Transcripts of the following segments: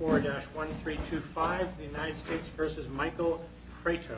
4-1325 the United States v. Michael Prieto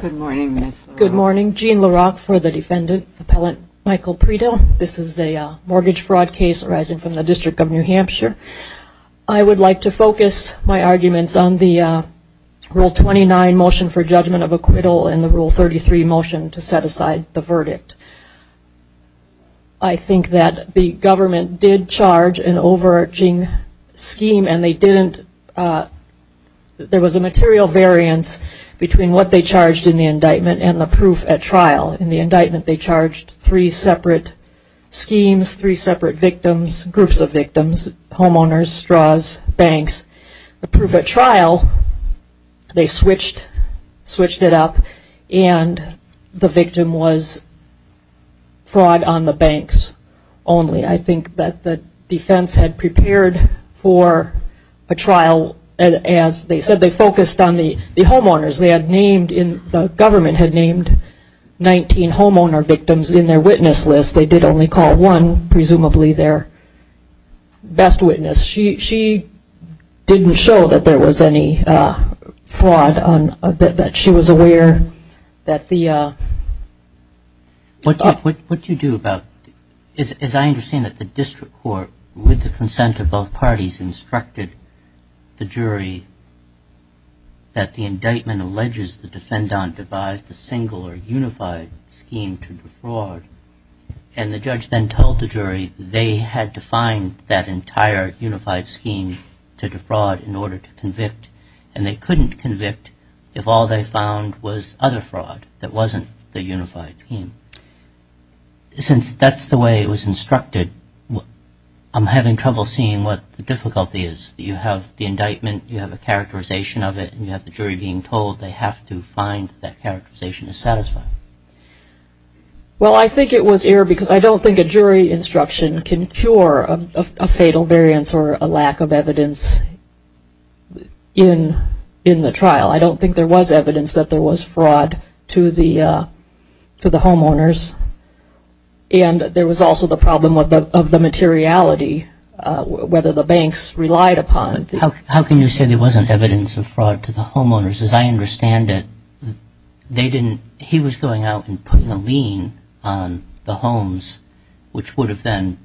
Good morning, Ms. LaRocque. Good morning. Jean LaRocque for the defendant, Appellant Michael Prieto. This is a mortgage fraud case arising from the District of New Hampshire. I would like to focus my arguments on the Rule 29 motion for judgment of acquittal and the Rule 33 motion to set aside the verdict. I think that the government did charge an overarching scheme and they didn't there was a material variance between what they charged in the indictment and the proof at trial. In the indictment they charged three separate schemes, three separate victims, groups of victims, homeowners, straws, banks. The proof at trial they switched it up and the victim was fraud on the banks only. I as they said they focused on the the homeowners they had named in the government had named 19 homeowner victims in their witness list they did only call one presumably their best witness. She didn't show that there was any fraud on that she was aware that the... What do you do about, as I understand that the district court with the consent of both parties instructed the jury that the indictment alleges the defendant devised a single or unified scheme to defraud and the judge then told the jury they had to find that entire unified scheme to defraud in order to convict and they couldn't convict if all they found was other fraud that wasn't the unified scheme. Since that's the way it was instructed I'm having trouble seeing what the difficulty is. You have the indictment you have a characterization of it and you have the jury being told they have to find that characterization is satisfying. Well I think it was error because I don't think a jury instruction can cure a fatal variance or a lack of evidence in in the trial. I don't think there was evidence that there was fraud to the to the homeowners and there was also the problem with the of the materiality whether the banks relied upon. How can you say there wasn't evidence of fraud to the homeowners as I understand it they didn't he was going out and putting a lien on the homes which would have then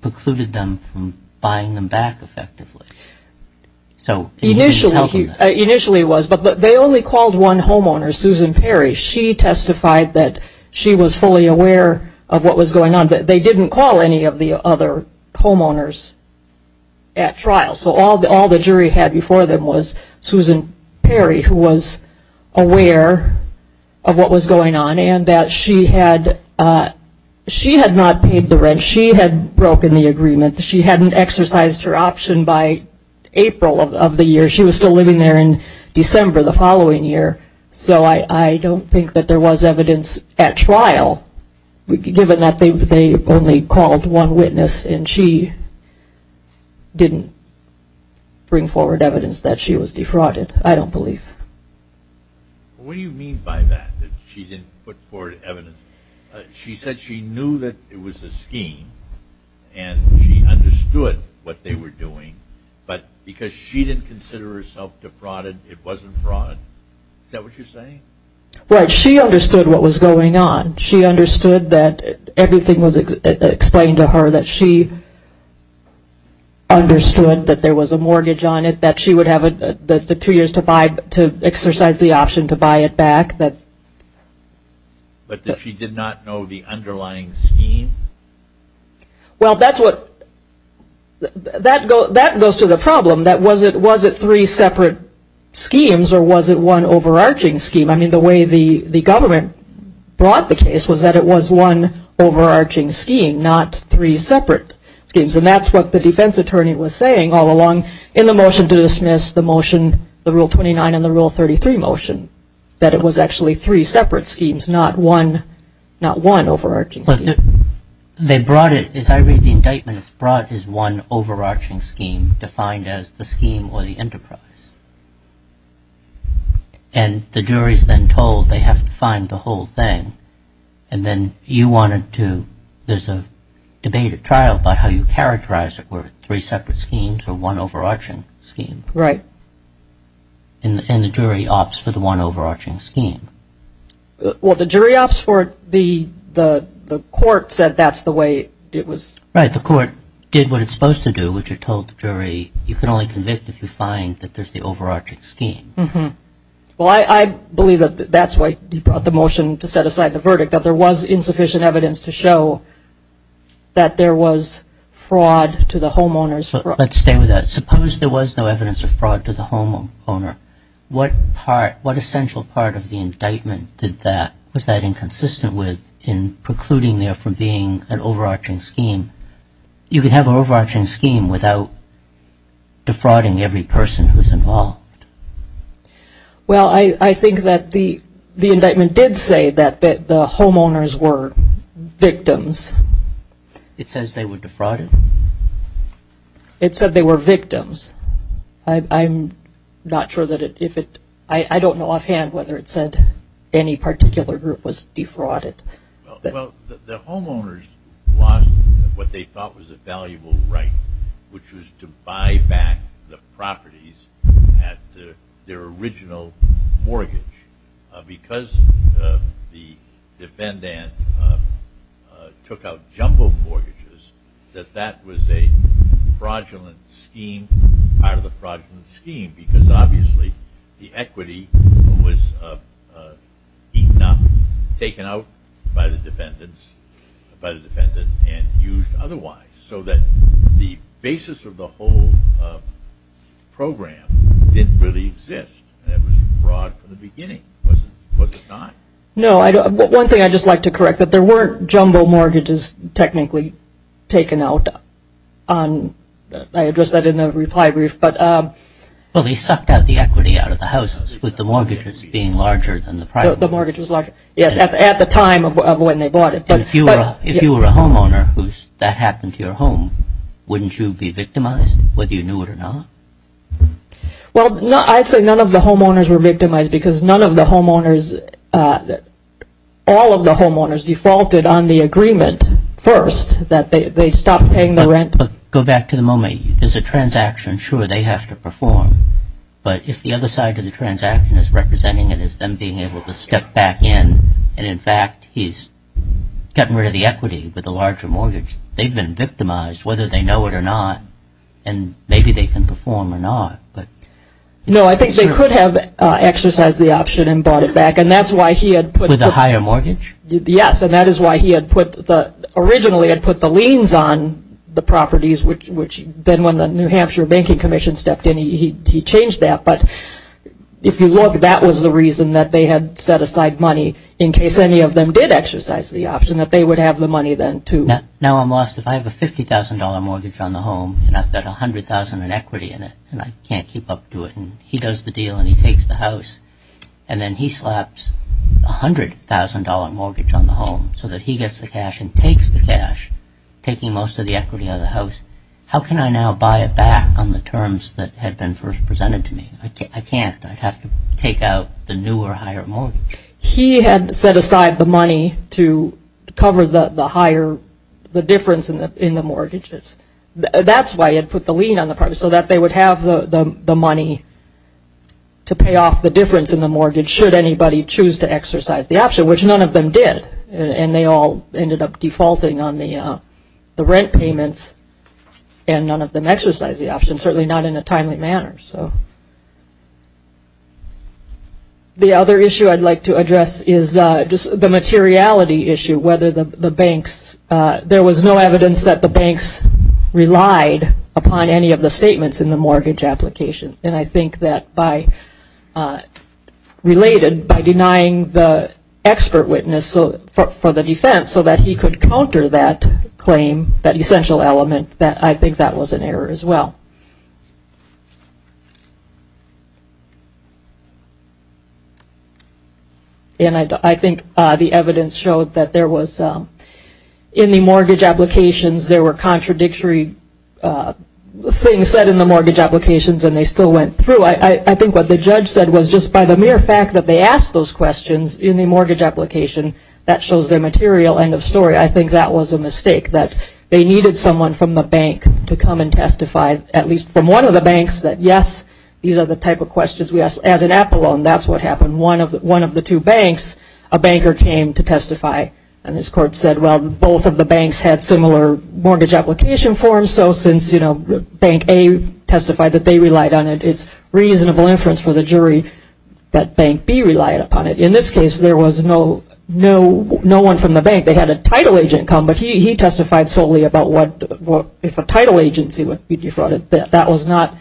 precluded them from buying them back effectively. So initially he initially was but but they only called one homeowner Susan Perry she testified that she was fully aware of what was going on that they didn't call any of the other homeowners at trial so all the all the jury had before them was Susan Perry who was aware of what was going on and that she had she had not paid the rent she had broken the agreement she hadn't exercised her option by April of the year she was still living there in December the think that there was evidence at trial given that they they only called one witness and she didn't bring forward evidence that she was defrauded I don't believe. What do you mean by that she didn't put forward evidence she said she knew that it was a scheme and she understood what they were doing but because she didn't consider herself defrauded it wasn't fraud is that what you're saying? Right she understood what was going on she understood that everything was explained to her that she understood that there was a mortgage on it that she would have the two years to buy to exercise the option to buy it back. But she did not know the underlying scheme? Well that's what that goes to the problem that was it was it three separate schemes or was it one overarching scheme I mean the way the the government brought the case was that it was one overarching scheme not three separate schemes and that's what the defense attorney was saying all along in the motion to dismiss the motion the rule 29 and the rule 33 motion that it was actually three separate schemes not one not one overarching. But they brought it as I read the indictment it's brought as one overarching scheme defined as the scheme or the enterprise and the jury's then told they have to find the whole thing and then you wanted to there's a debated trial about how you characterize it were three separate schemes or one overarching scheme. Right. And the jury opts for the one overarching scheme. Well the jury opts for it the the the court said that's the way it was. Right the court did what it's supposed to do which it told the jury you can only convict if you find that there's the overarching scheme. Mm-hmm well I believe that that's why he brought the motion to set aside the verdict that there was insufficient evidence to show that there was fraud to the homeowners. Let's stay with that suppose there was no evidence of fraud to the homeowner what part what essential part of the indictment did that was that inconsistent with in precluding there from being an overarching scheme? You could have an overarching scheme without defrauding every person who's involved. Well I I think that the the indictment did say that that the homeowners were victims. It says they were defrauded. It said they were victims. I'm not sure that it if it I I don't know offhand whether it said any particular group was defrauded. The homeowners lost what they thought was a valuable right which was to buy back the properties at their original mortgage because the defendant took out jumbo mortgages that that was a fraudulent part of the fraudulent scheme because obviously the equity was eaten up, taken out by the defendants by the defendant and used otherwise so that the basis of the whole program didn't really exist. It was fraud from the beginning. No I don't but one thing I just like to correct that there weren't jumbo mortgages technically taken out on I addressed that in the reply brief but well they sucked out the equity out of the houses with the mortgages being larger than the private the mortgage was larger yes at the time of when they bought it but if you were if you were a homeowner whose that happened to your home wouldn't you be victimized whether you knew it or not? Well no I'd say none of the homeowners were victimized because none of the homeowners that all of the homeowners defaulted on the agreement first that they stopped paying the rent but go back to the moment there's a transaction sure they have to perform but if the other side of the transaction is representing it is them being able to step back in and in fact he's gotten rid of the equity with a larger mortgage they've been victimized whether they know it or not and maybe they can perform or not but no I think they could have exercised the option and bought it back and that's why he had put a higher mortgage yes and that is why he had put the originally had put the liens on the properties which which then when the New Hampshire Banking Commission stepped in he changed that but if you look that was the reason that they had set aside money in case any of them did exercise the option that they would have the money then too. Now I'm lost if I have a $50,000 mortgage on the home and I've got a hundred thousand in equity in it and I can't keep up to it and he does the deal and he takes the house and then he slaps a hundred thousand dollar mortgage on the home so that he gets the cash and takes the cash taking most of the equity out of the house how can I now buy it back on the terms that had been first presented to me I can't I'd have to take out the new or higher mortgage. He had set aside the money to cover the the higher the difference in the in the mortgages that's why it put the lien on the property so that they would have the money to pay off the difference in the mortgage should anybody choose to exercise the option which none of them did and they all ended up defaulting on the the rent payments and none of them exercise the option certainly not in a timely manner so. The other issue I'd like to address is just the materiality issue whether the banks there was no evidence that the banks relied upon any of the statements in the mortgage application and I think that by related by denying the expert witness so for the defense so that he could counter that claim that essential element that I think that was an error as well. And I think the evidence showed that there was in the mortgage applications there were contradictory things said in the mortgage applications and they still went through. I think what the judge said was just by the mere fact that they asked those questions in the mortgage application that shows their material end of story. I think that was a mistake that they needed someone from the bank to come and testify at least from one of the banks that yes these are the type of questions we ask as an Apple loan that's what happened one of one of the two banks a banker came to testify and this court said well both of the banks had similar mortgage application forms so since you know Bank A testified that they relied on it it's reasonable inference for the jury that Bank B relied upon it. In this case there was no no no one from the bank they had a title agent come but he testified solely about what if a title agency would be defrauded that was not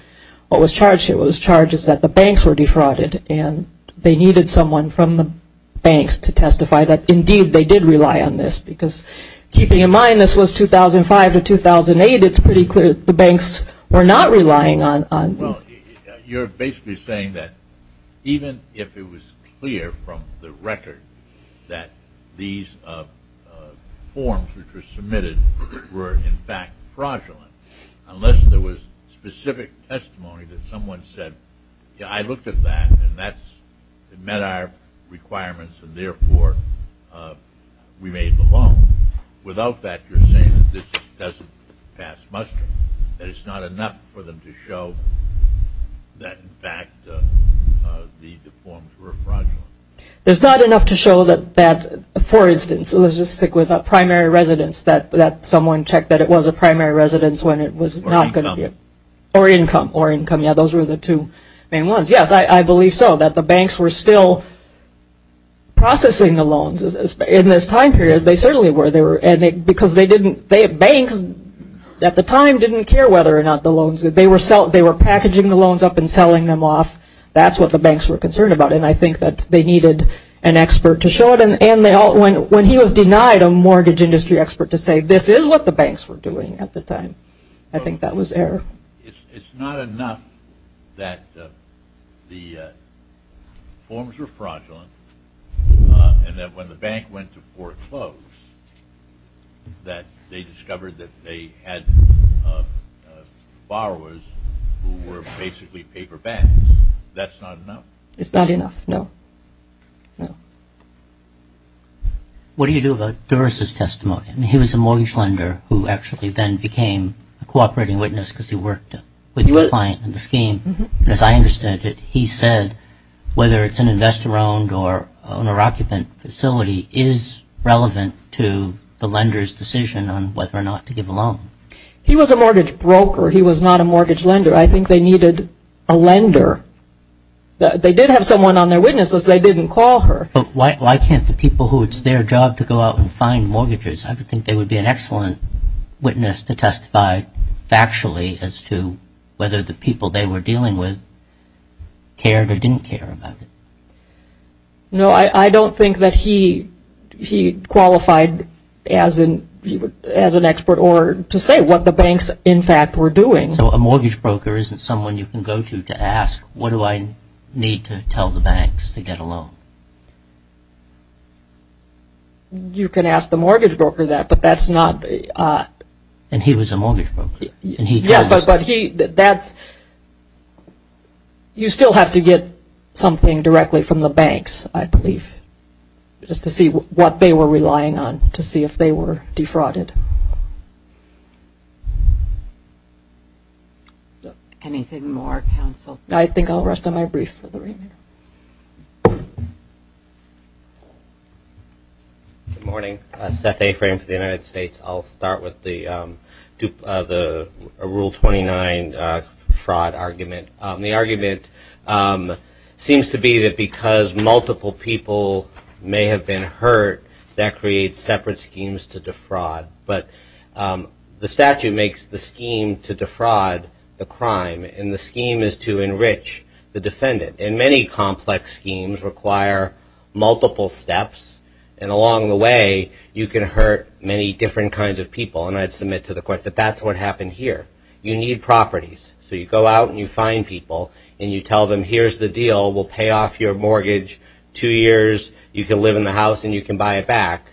what was charged it was charges that the banks were defrauded and they needed someone from the banks to testify that indeed they did rely on this because keeping in mind this was 2005 to 2008 it's pretty clear the banks were not relying on well you're basically saying that even if it was clear from the record that these forms which were submitted were in fact fraudulent unless there was specific testimony that someone said I looked at that and that's it met our requirements and therefore we made the loan without that you're saying that this doesn't pass muster that it's not enough for them to show that in fact the forms were fraudulent. There's not enough to show that that for instance let's just stick with a primary residence that that someone checked that it was a primary residence when it was not going to be or income or income yeah those are the two main ones yes I I believe so that the banks were still processing the loans in this time period they certainly were there and they because they didn't they have banks at the time didn't care whether or not the loans that they were sell they were packaging the loans up and selling them off that's what the banks were concerned about and I think that they needed an expert to show it and they all went when he was denied a mortgage industry expert to say this is what the banks were doing at the time I think that was it's not enough that the forms were fraudulent and that when the bank went to foreclose that they discovered that they had borrowers were basically paper banks that's not enough it's not enough no no what do you do about Doris's testimony and he was a mortgage lender who actually then became a cooperating witness because he worked with you a client in the scheme as I understood it he said whether it's an investor owned or owner occupant facility is relevant to the lenders decision on whether or not to give a loan he was a mortgage broker he was not a mortgage lender I think they needed a lender they did have someone on their witnesses they didn't call her but why can't the people who it's their job to go out and find mortgages I would think they would be an factually as to whether the people they were dealing with cared or didn't care about it no I I don't think that he he qualified as in as an expert or to say what the banks in fact were doing so a mortgage broker isn't someone you can go to to ask what do I need to tell the banks to get a loan you can ask the mortgage broker yes but he that's you still have to get something directly from the banks I believe just to see what they were relying on to see if they were defrauded anything more counsel I think I'll rest on my brief good morning Seth a frame for the United States I'll start with the dupe the rule 29 fraud argument the argument seems to be that because multiple people may have been hurt that creates separate schemes to defraud but the statute makes the scheme to defraud the crime and the scheme is to enrich the defendant in many complex schemes require multiple steps and along the way you can hurt many different kinds of people and I'd submit to the court that that's what happened here you need properties so you go out and you find people and you tell them here's the deal will pay off your mortgage two years you can live in the house and you can buy it back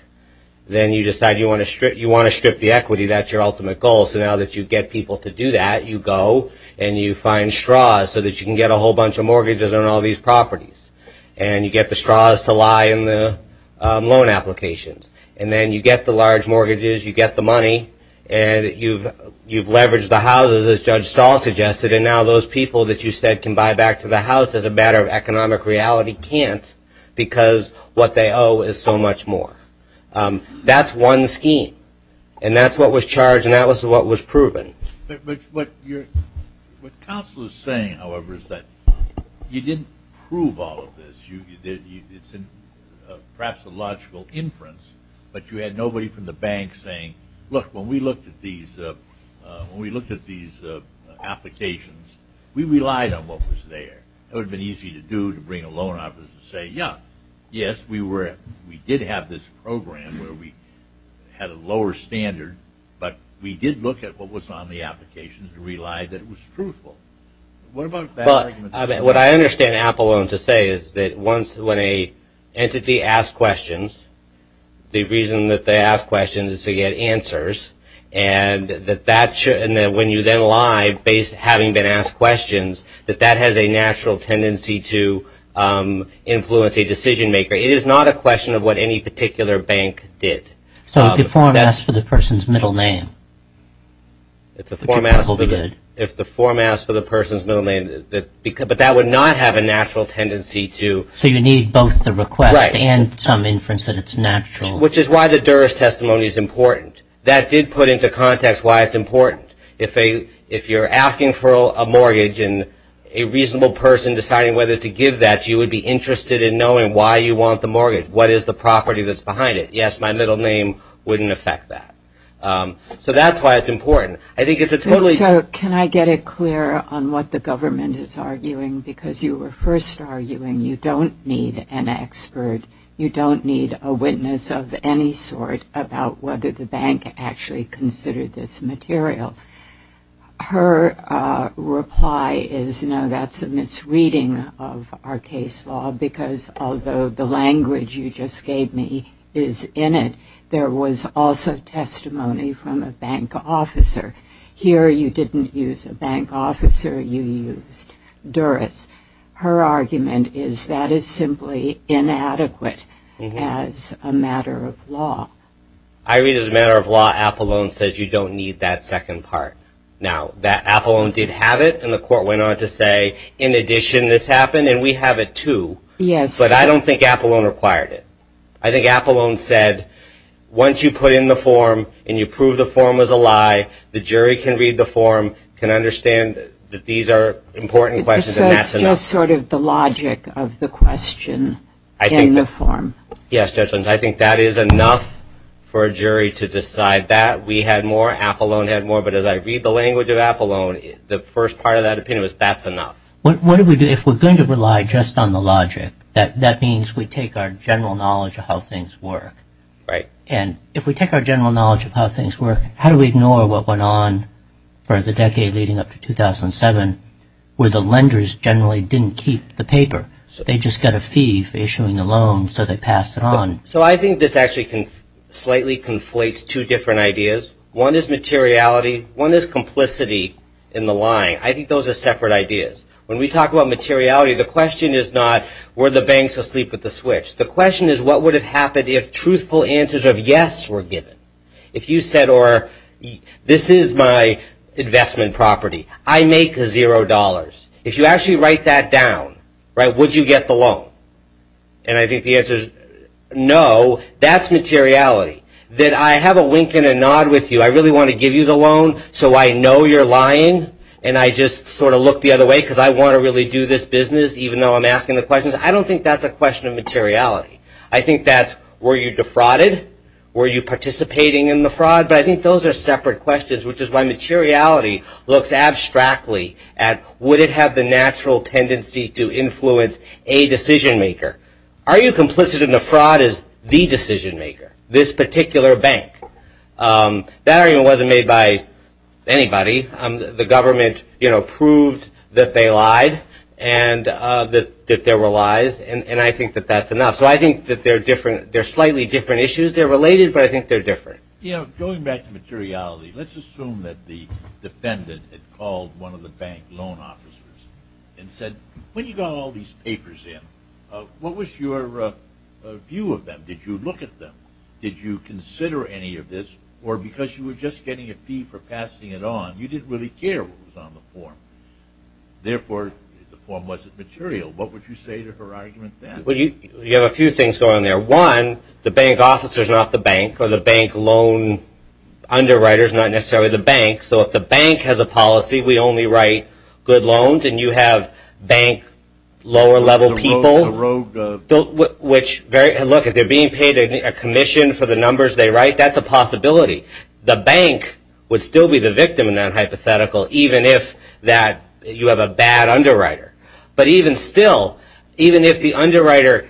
then you decide you want to strip you want to strip the equity that your ultimate goal so now that you get people to do that you go and you find straws so that you can get a whole bunch of mortgages and all these properties and you get the straws to lie in the loan applications and then you get the large mortgages you get the money and you've you've leveraged the houses as Judge Stahl suggested and now those people that you said can buy back to the house as a matter of economic reality can't because what they owe is so much more that's one scheme and that's what was charged and that was what was proven but what you're what council is saying however is that you didn't prove all of this you did it's in perhaps a logical inference but you had nobody from the bank saying look when we looked at these when we looked at these applications we relied on what was there it would have been easy to do to bring a loan office and say yeah yes we were we did have this program where we had a lower standard but we did look at what was on the applications and what I understand Apple loan to say is that once when a entity asked questions the reason that they ask questions is to get answers and that that should and then when you then live based having been asked questions that that has a natural tendency to influence a decision-maker it is not a question of what any particular bank did so the form s for the person's middle name if the if the form s for the person's middle name that because but that would not have a natural tendency to so you need both the request and some inference that it's natural which is why the Dura's testimony is important that did put into context why it's important if a if you're asking for a mortgage and a reasonable person deciding whether to give that you would be interested in knowing why you want the mortgage what is the property that's behind it yes my middle name wouldn't affect that so that's why it's important I think it's a totally can I get it clear on what the government is arguing because you were first arguing you don't need an expert you don't need a witness of any sort about whether the bank actually considered this material her reply is no that's a misreading of our case law because although the language you just gave me is in it there was also testimony from a bank officer here you didn't use a bank officer you used Duras her argument is that is simply inadequate as a matter of law I read as a matter of law Apple loan says you don't need that second part now that Apple did have it and the court went on to say in addition this happened and we have it too yes but I don't think Apple own required it I think Apple own said once you put in the form and you prove the form was a lie the jury can read the form can understand that these are important questions that's just sort of the logic of the question I think the form yes judge lens I think that is enough for a jury to decide that we had more Apple own had more but as I read the language of Apple own the first part of that opinion was that's enough what do we do if we're going to rely just on the logic that that means we take our general knowledge of how things work right and if we take our general knowledge of how things work how do we ignore what went on for the decade leading up to 2007 where the lenders generally didn't keep the paper so they just got a fee for issuing the loan so they passed it on so I think this actually can slightly conflates two different ideas one is materiality one is complicity in the line I think those are the separate ideas when we talk about materiality the question is not were the banks asleep with the switch the question is what would have happened if truthful answers of yes were given if you said or this is my investment property I make zero dollars if you actually write that down right would you get the loan and I think the answer is no that's materiality that I have a wink and a nod with you I really want to give you the loan so I know you're lying and I just sort of look the other way because I want to really do this business even though I'm asking the questions I don't think that's a question of materiality I think that's were you defrauded were you participating in the fraud but I think those are separate questions which is why materiality looks abstractly at would it have the natural tendency to influence a decision maker are you complicit in the fraud is the decision maker this particular bank that I wasn't made by anybody I'm the government you know proved that they lied and that there were lies and I think that that's enough so I think that they're different they're slightly different issues they're related but I think they're different you know going back to materiality let's assume that the defendant had called one of the bank loan officers and said when you got all these papers in what was your view of them did you look at them did you consider any of this or because you were just getting a fee for passing it on you didn't really care what was on the form therefore the form wasn't material what would you say to her argument that well you you have a few things going there one the bank officers not the bank or the bank loan underwriters not necessarily the bank so if the bank has a policy we only write good loans and you have bank lower level people wrote which very look at they're being paid a commission for the numbers they write that's a possibility the bank would still be the victim in that hypothetical even if that you have a bad underwriter but even still even if the underwriter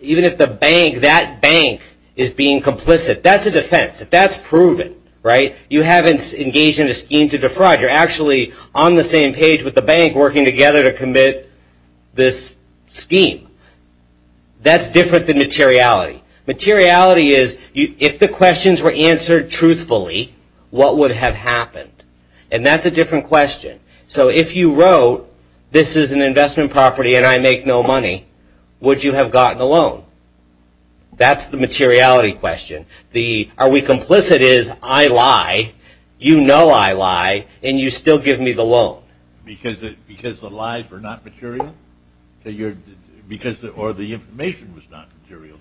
even if the bank that bank is being complicit that's a defense that's proven right you haven't engaged in a scheme to defraud you're actually on the same page with the bank working together to commit this scheme that's different than materiality materiality is you if the questions were answered truthfully what would have happened and that's a different question so if you wrote this is an investment property and I make no money would you have gotten alone that's the materiality question the are we complicit is I lie you know I lie and you still give me the loan because it because the lies were not material because the information was not material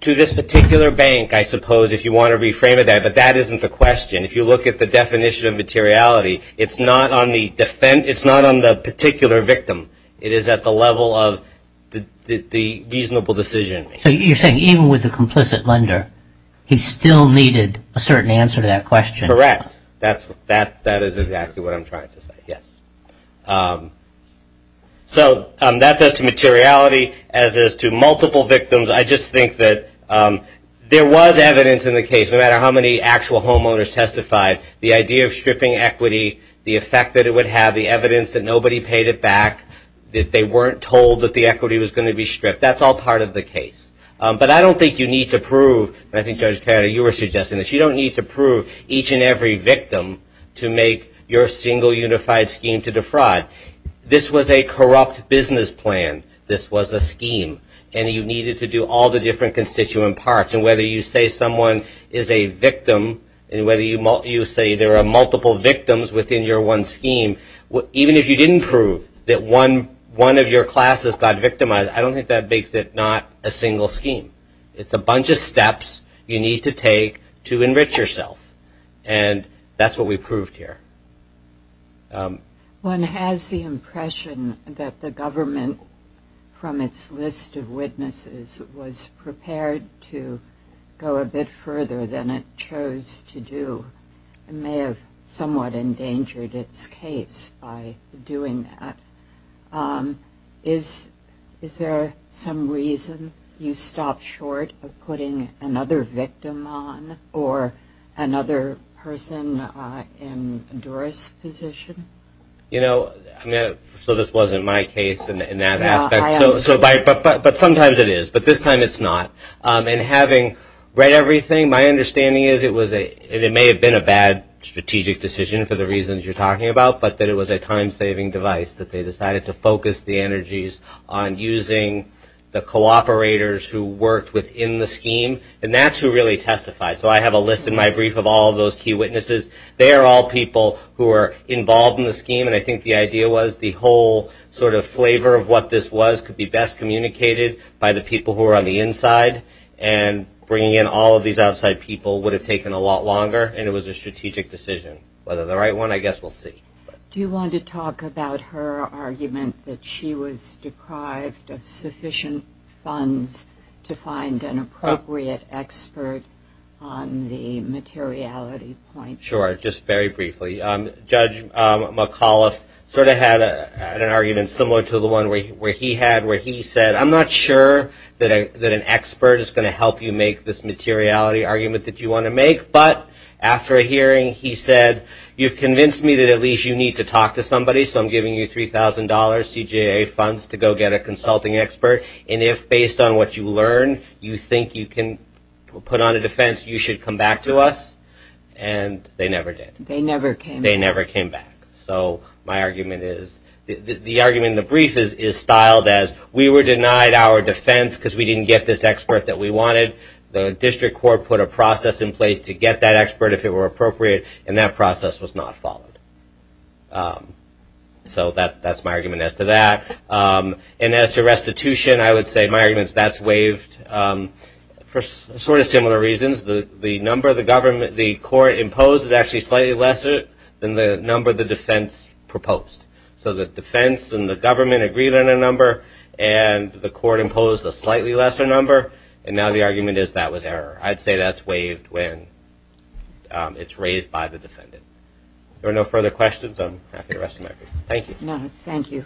to this particular bank I suppose if you want to reframe it that but that isn't the question if you look at the definition of materiality it's not on the defense it's not on the particular victim it is at the level of the reasonable decision you're saying even with the complicit lender he still needed a certain answer that question correct that's that that is exactly what I'm trying to say yes so that's as to materiality as is to multiple victims I just think that there was evidence in the case no matter how many actual homeowners testified the idea of stripping equity the effect that it would have the evidence that nobody paid it back that they weren't told that the equity was going to be stripped that's all part of the case but I don't think you need to prove I think judge carry you were suggesting that you don't need to prove each and every victim to make your single unified scheme to defraud this was a corrupt business plan this was a scheme and you needed to do all the different constituent parts and whether you say someone is a victim and whether you might you say there are multiple victims within your one scheme what even if you didn't prove that one one of your classes got victimized I don't think that makes it not a single scheme it's a bunch of steps you need to take to enrich yourself and that's what we proved here one has the impression that the government from its list of witnesses was prepared to go a bit further than it chose to do and may have somewhat endangered its case by doing that is is there some reason you stop short of putting another victim on or another person in Doris position you know so this wasn't my case in that aspect but sometimes it is but this time it's not and having read everything my understanding is it was a it may have been a bad strategic decision for the reasons you're talking about but that it was a time-saving device that they decided to focus the energies on using the cooperators who worked within the scheme and that's who really testified so I have a list in my brief of all those key witnesses they are all people who are involved in the scheme and I think the idea was the whole sort of flavor of what this was could be best communicated by the people who are on the inside and bringing in all of these outside people would have taken a lot longer and it was a strategic decision whether the right one I guess we'll see do you want to talk about her argument that she was deprived of sufficient funds to find an appropriate expert on the materiality point sure just very briefly judge McAuliffe sort of had an argument similar to the one where he had where he said I'm not sure that an expert is going to help you make this after hearing he said you've convinced me that at least you need to talk to somebody so I'm giving you $3,000 CJA funds to go get a consulting expert and if based on what you learn you think you can put on a defense you should come back to us and they never did they never came they never came back so my argument is the argument the brief is is styled as we were denied our defense because we didn't get this expert that we wanted the district court put a process in place to get that expert if it were appropriate and that process was not followed so that that's my argument as to that and as to restitution I would say my arguments that's waived for sort of similar reasons the the number of the government the court imposed is actually slightly lesser than the number of the defense proposed so the defense and the government agreed on a number and the court imposed a slightly lesser number and now the argument is that was error I'd say that's waived when it's raised by the defendant there are no further questions I'm happy the rest of my thank you no thank you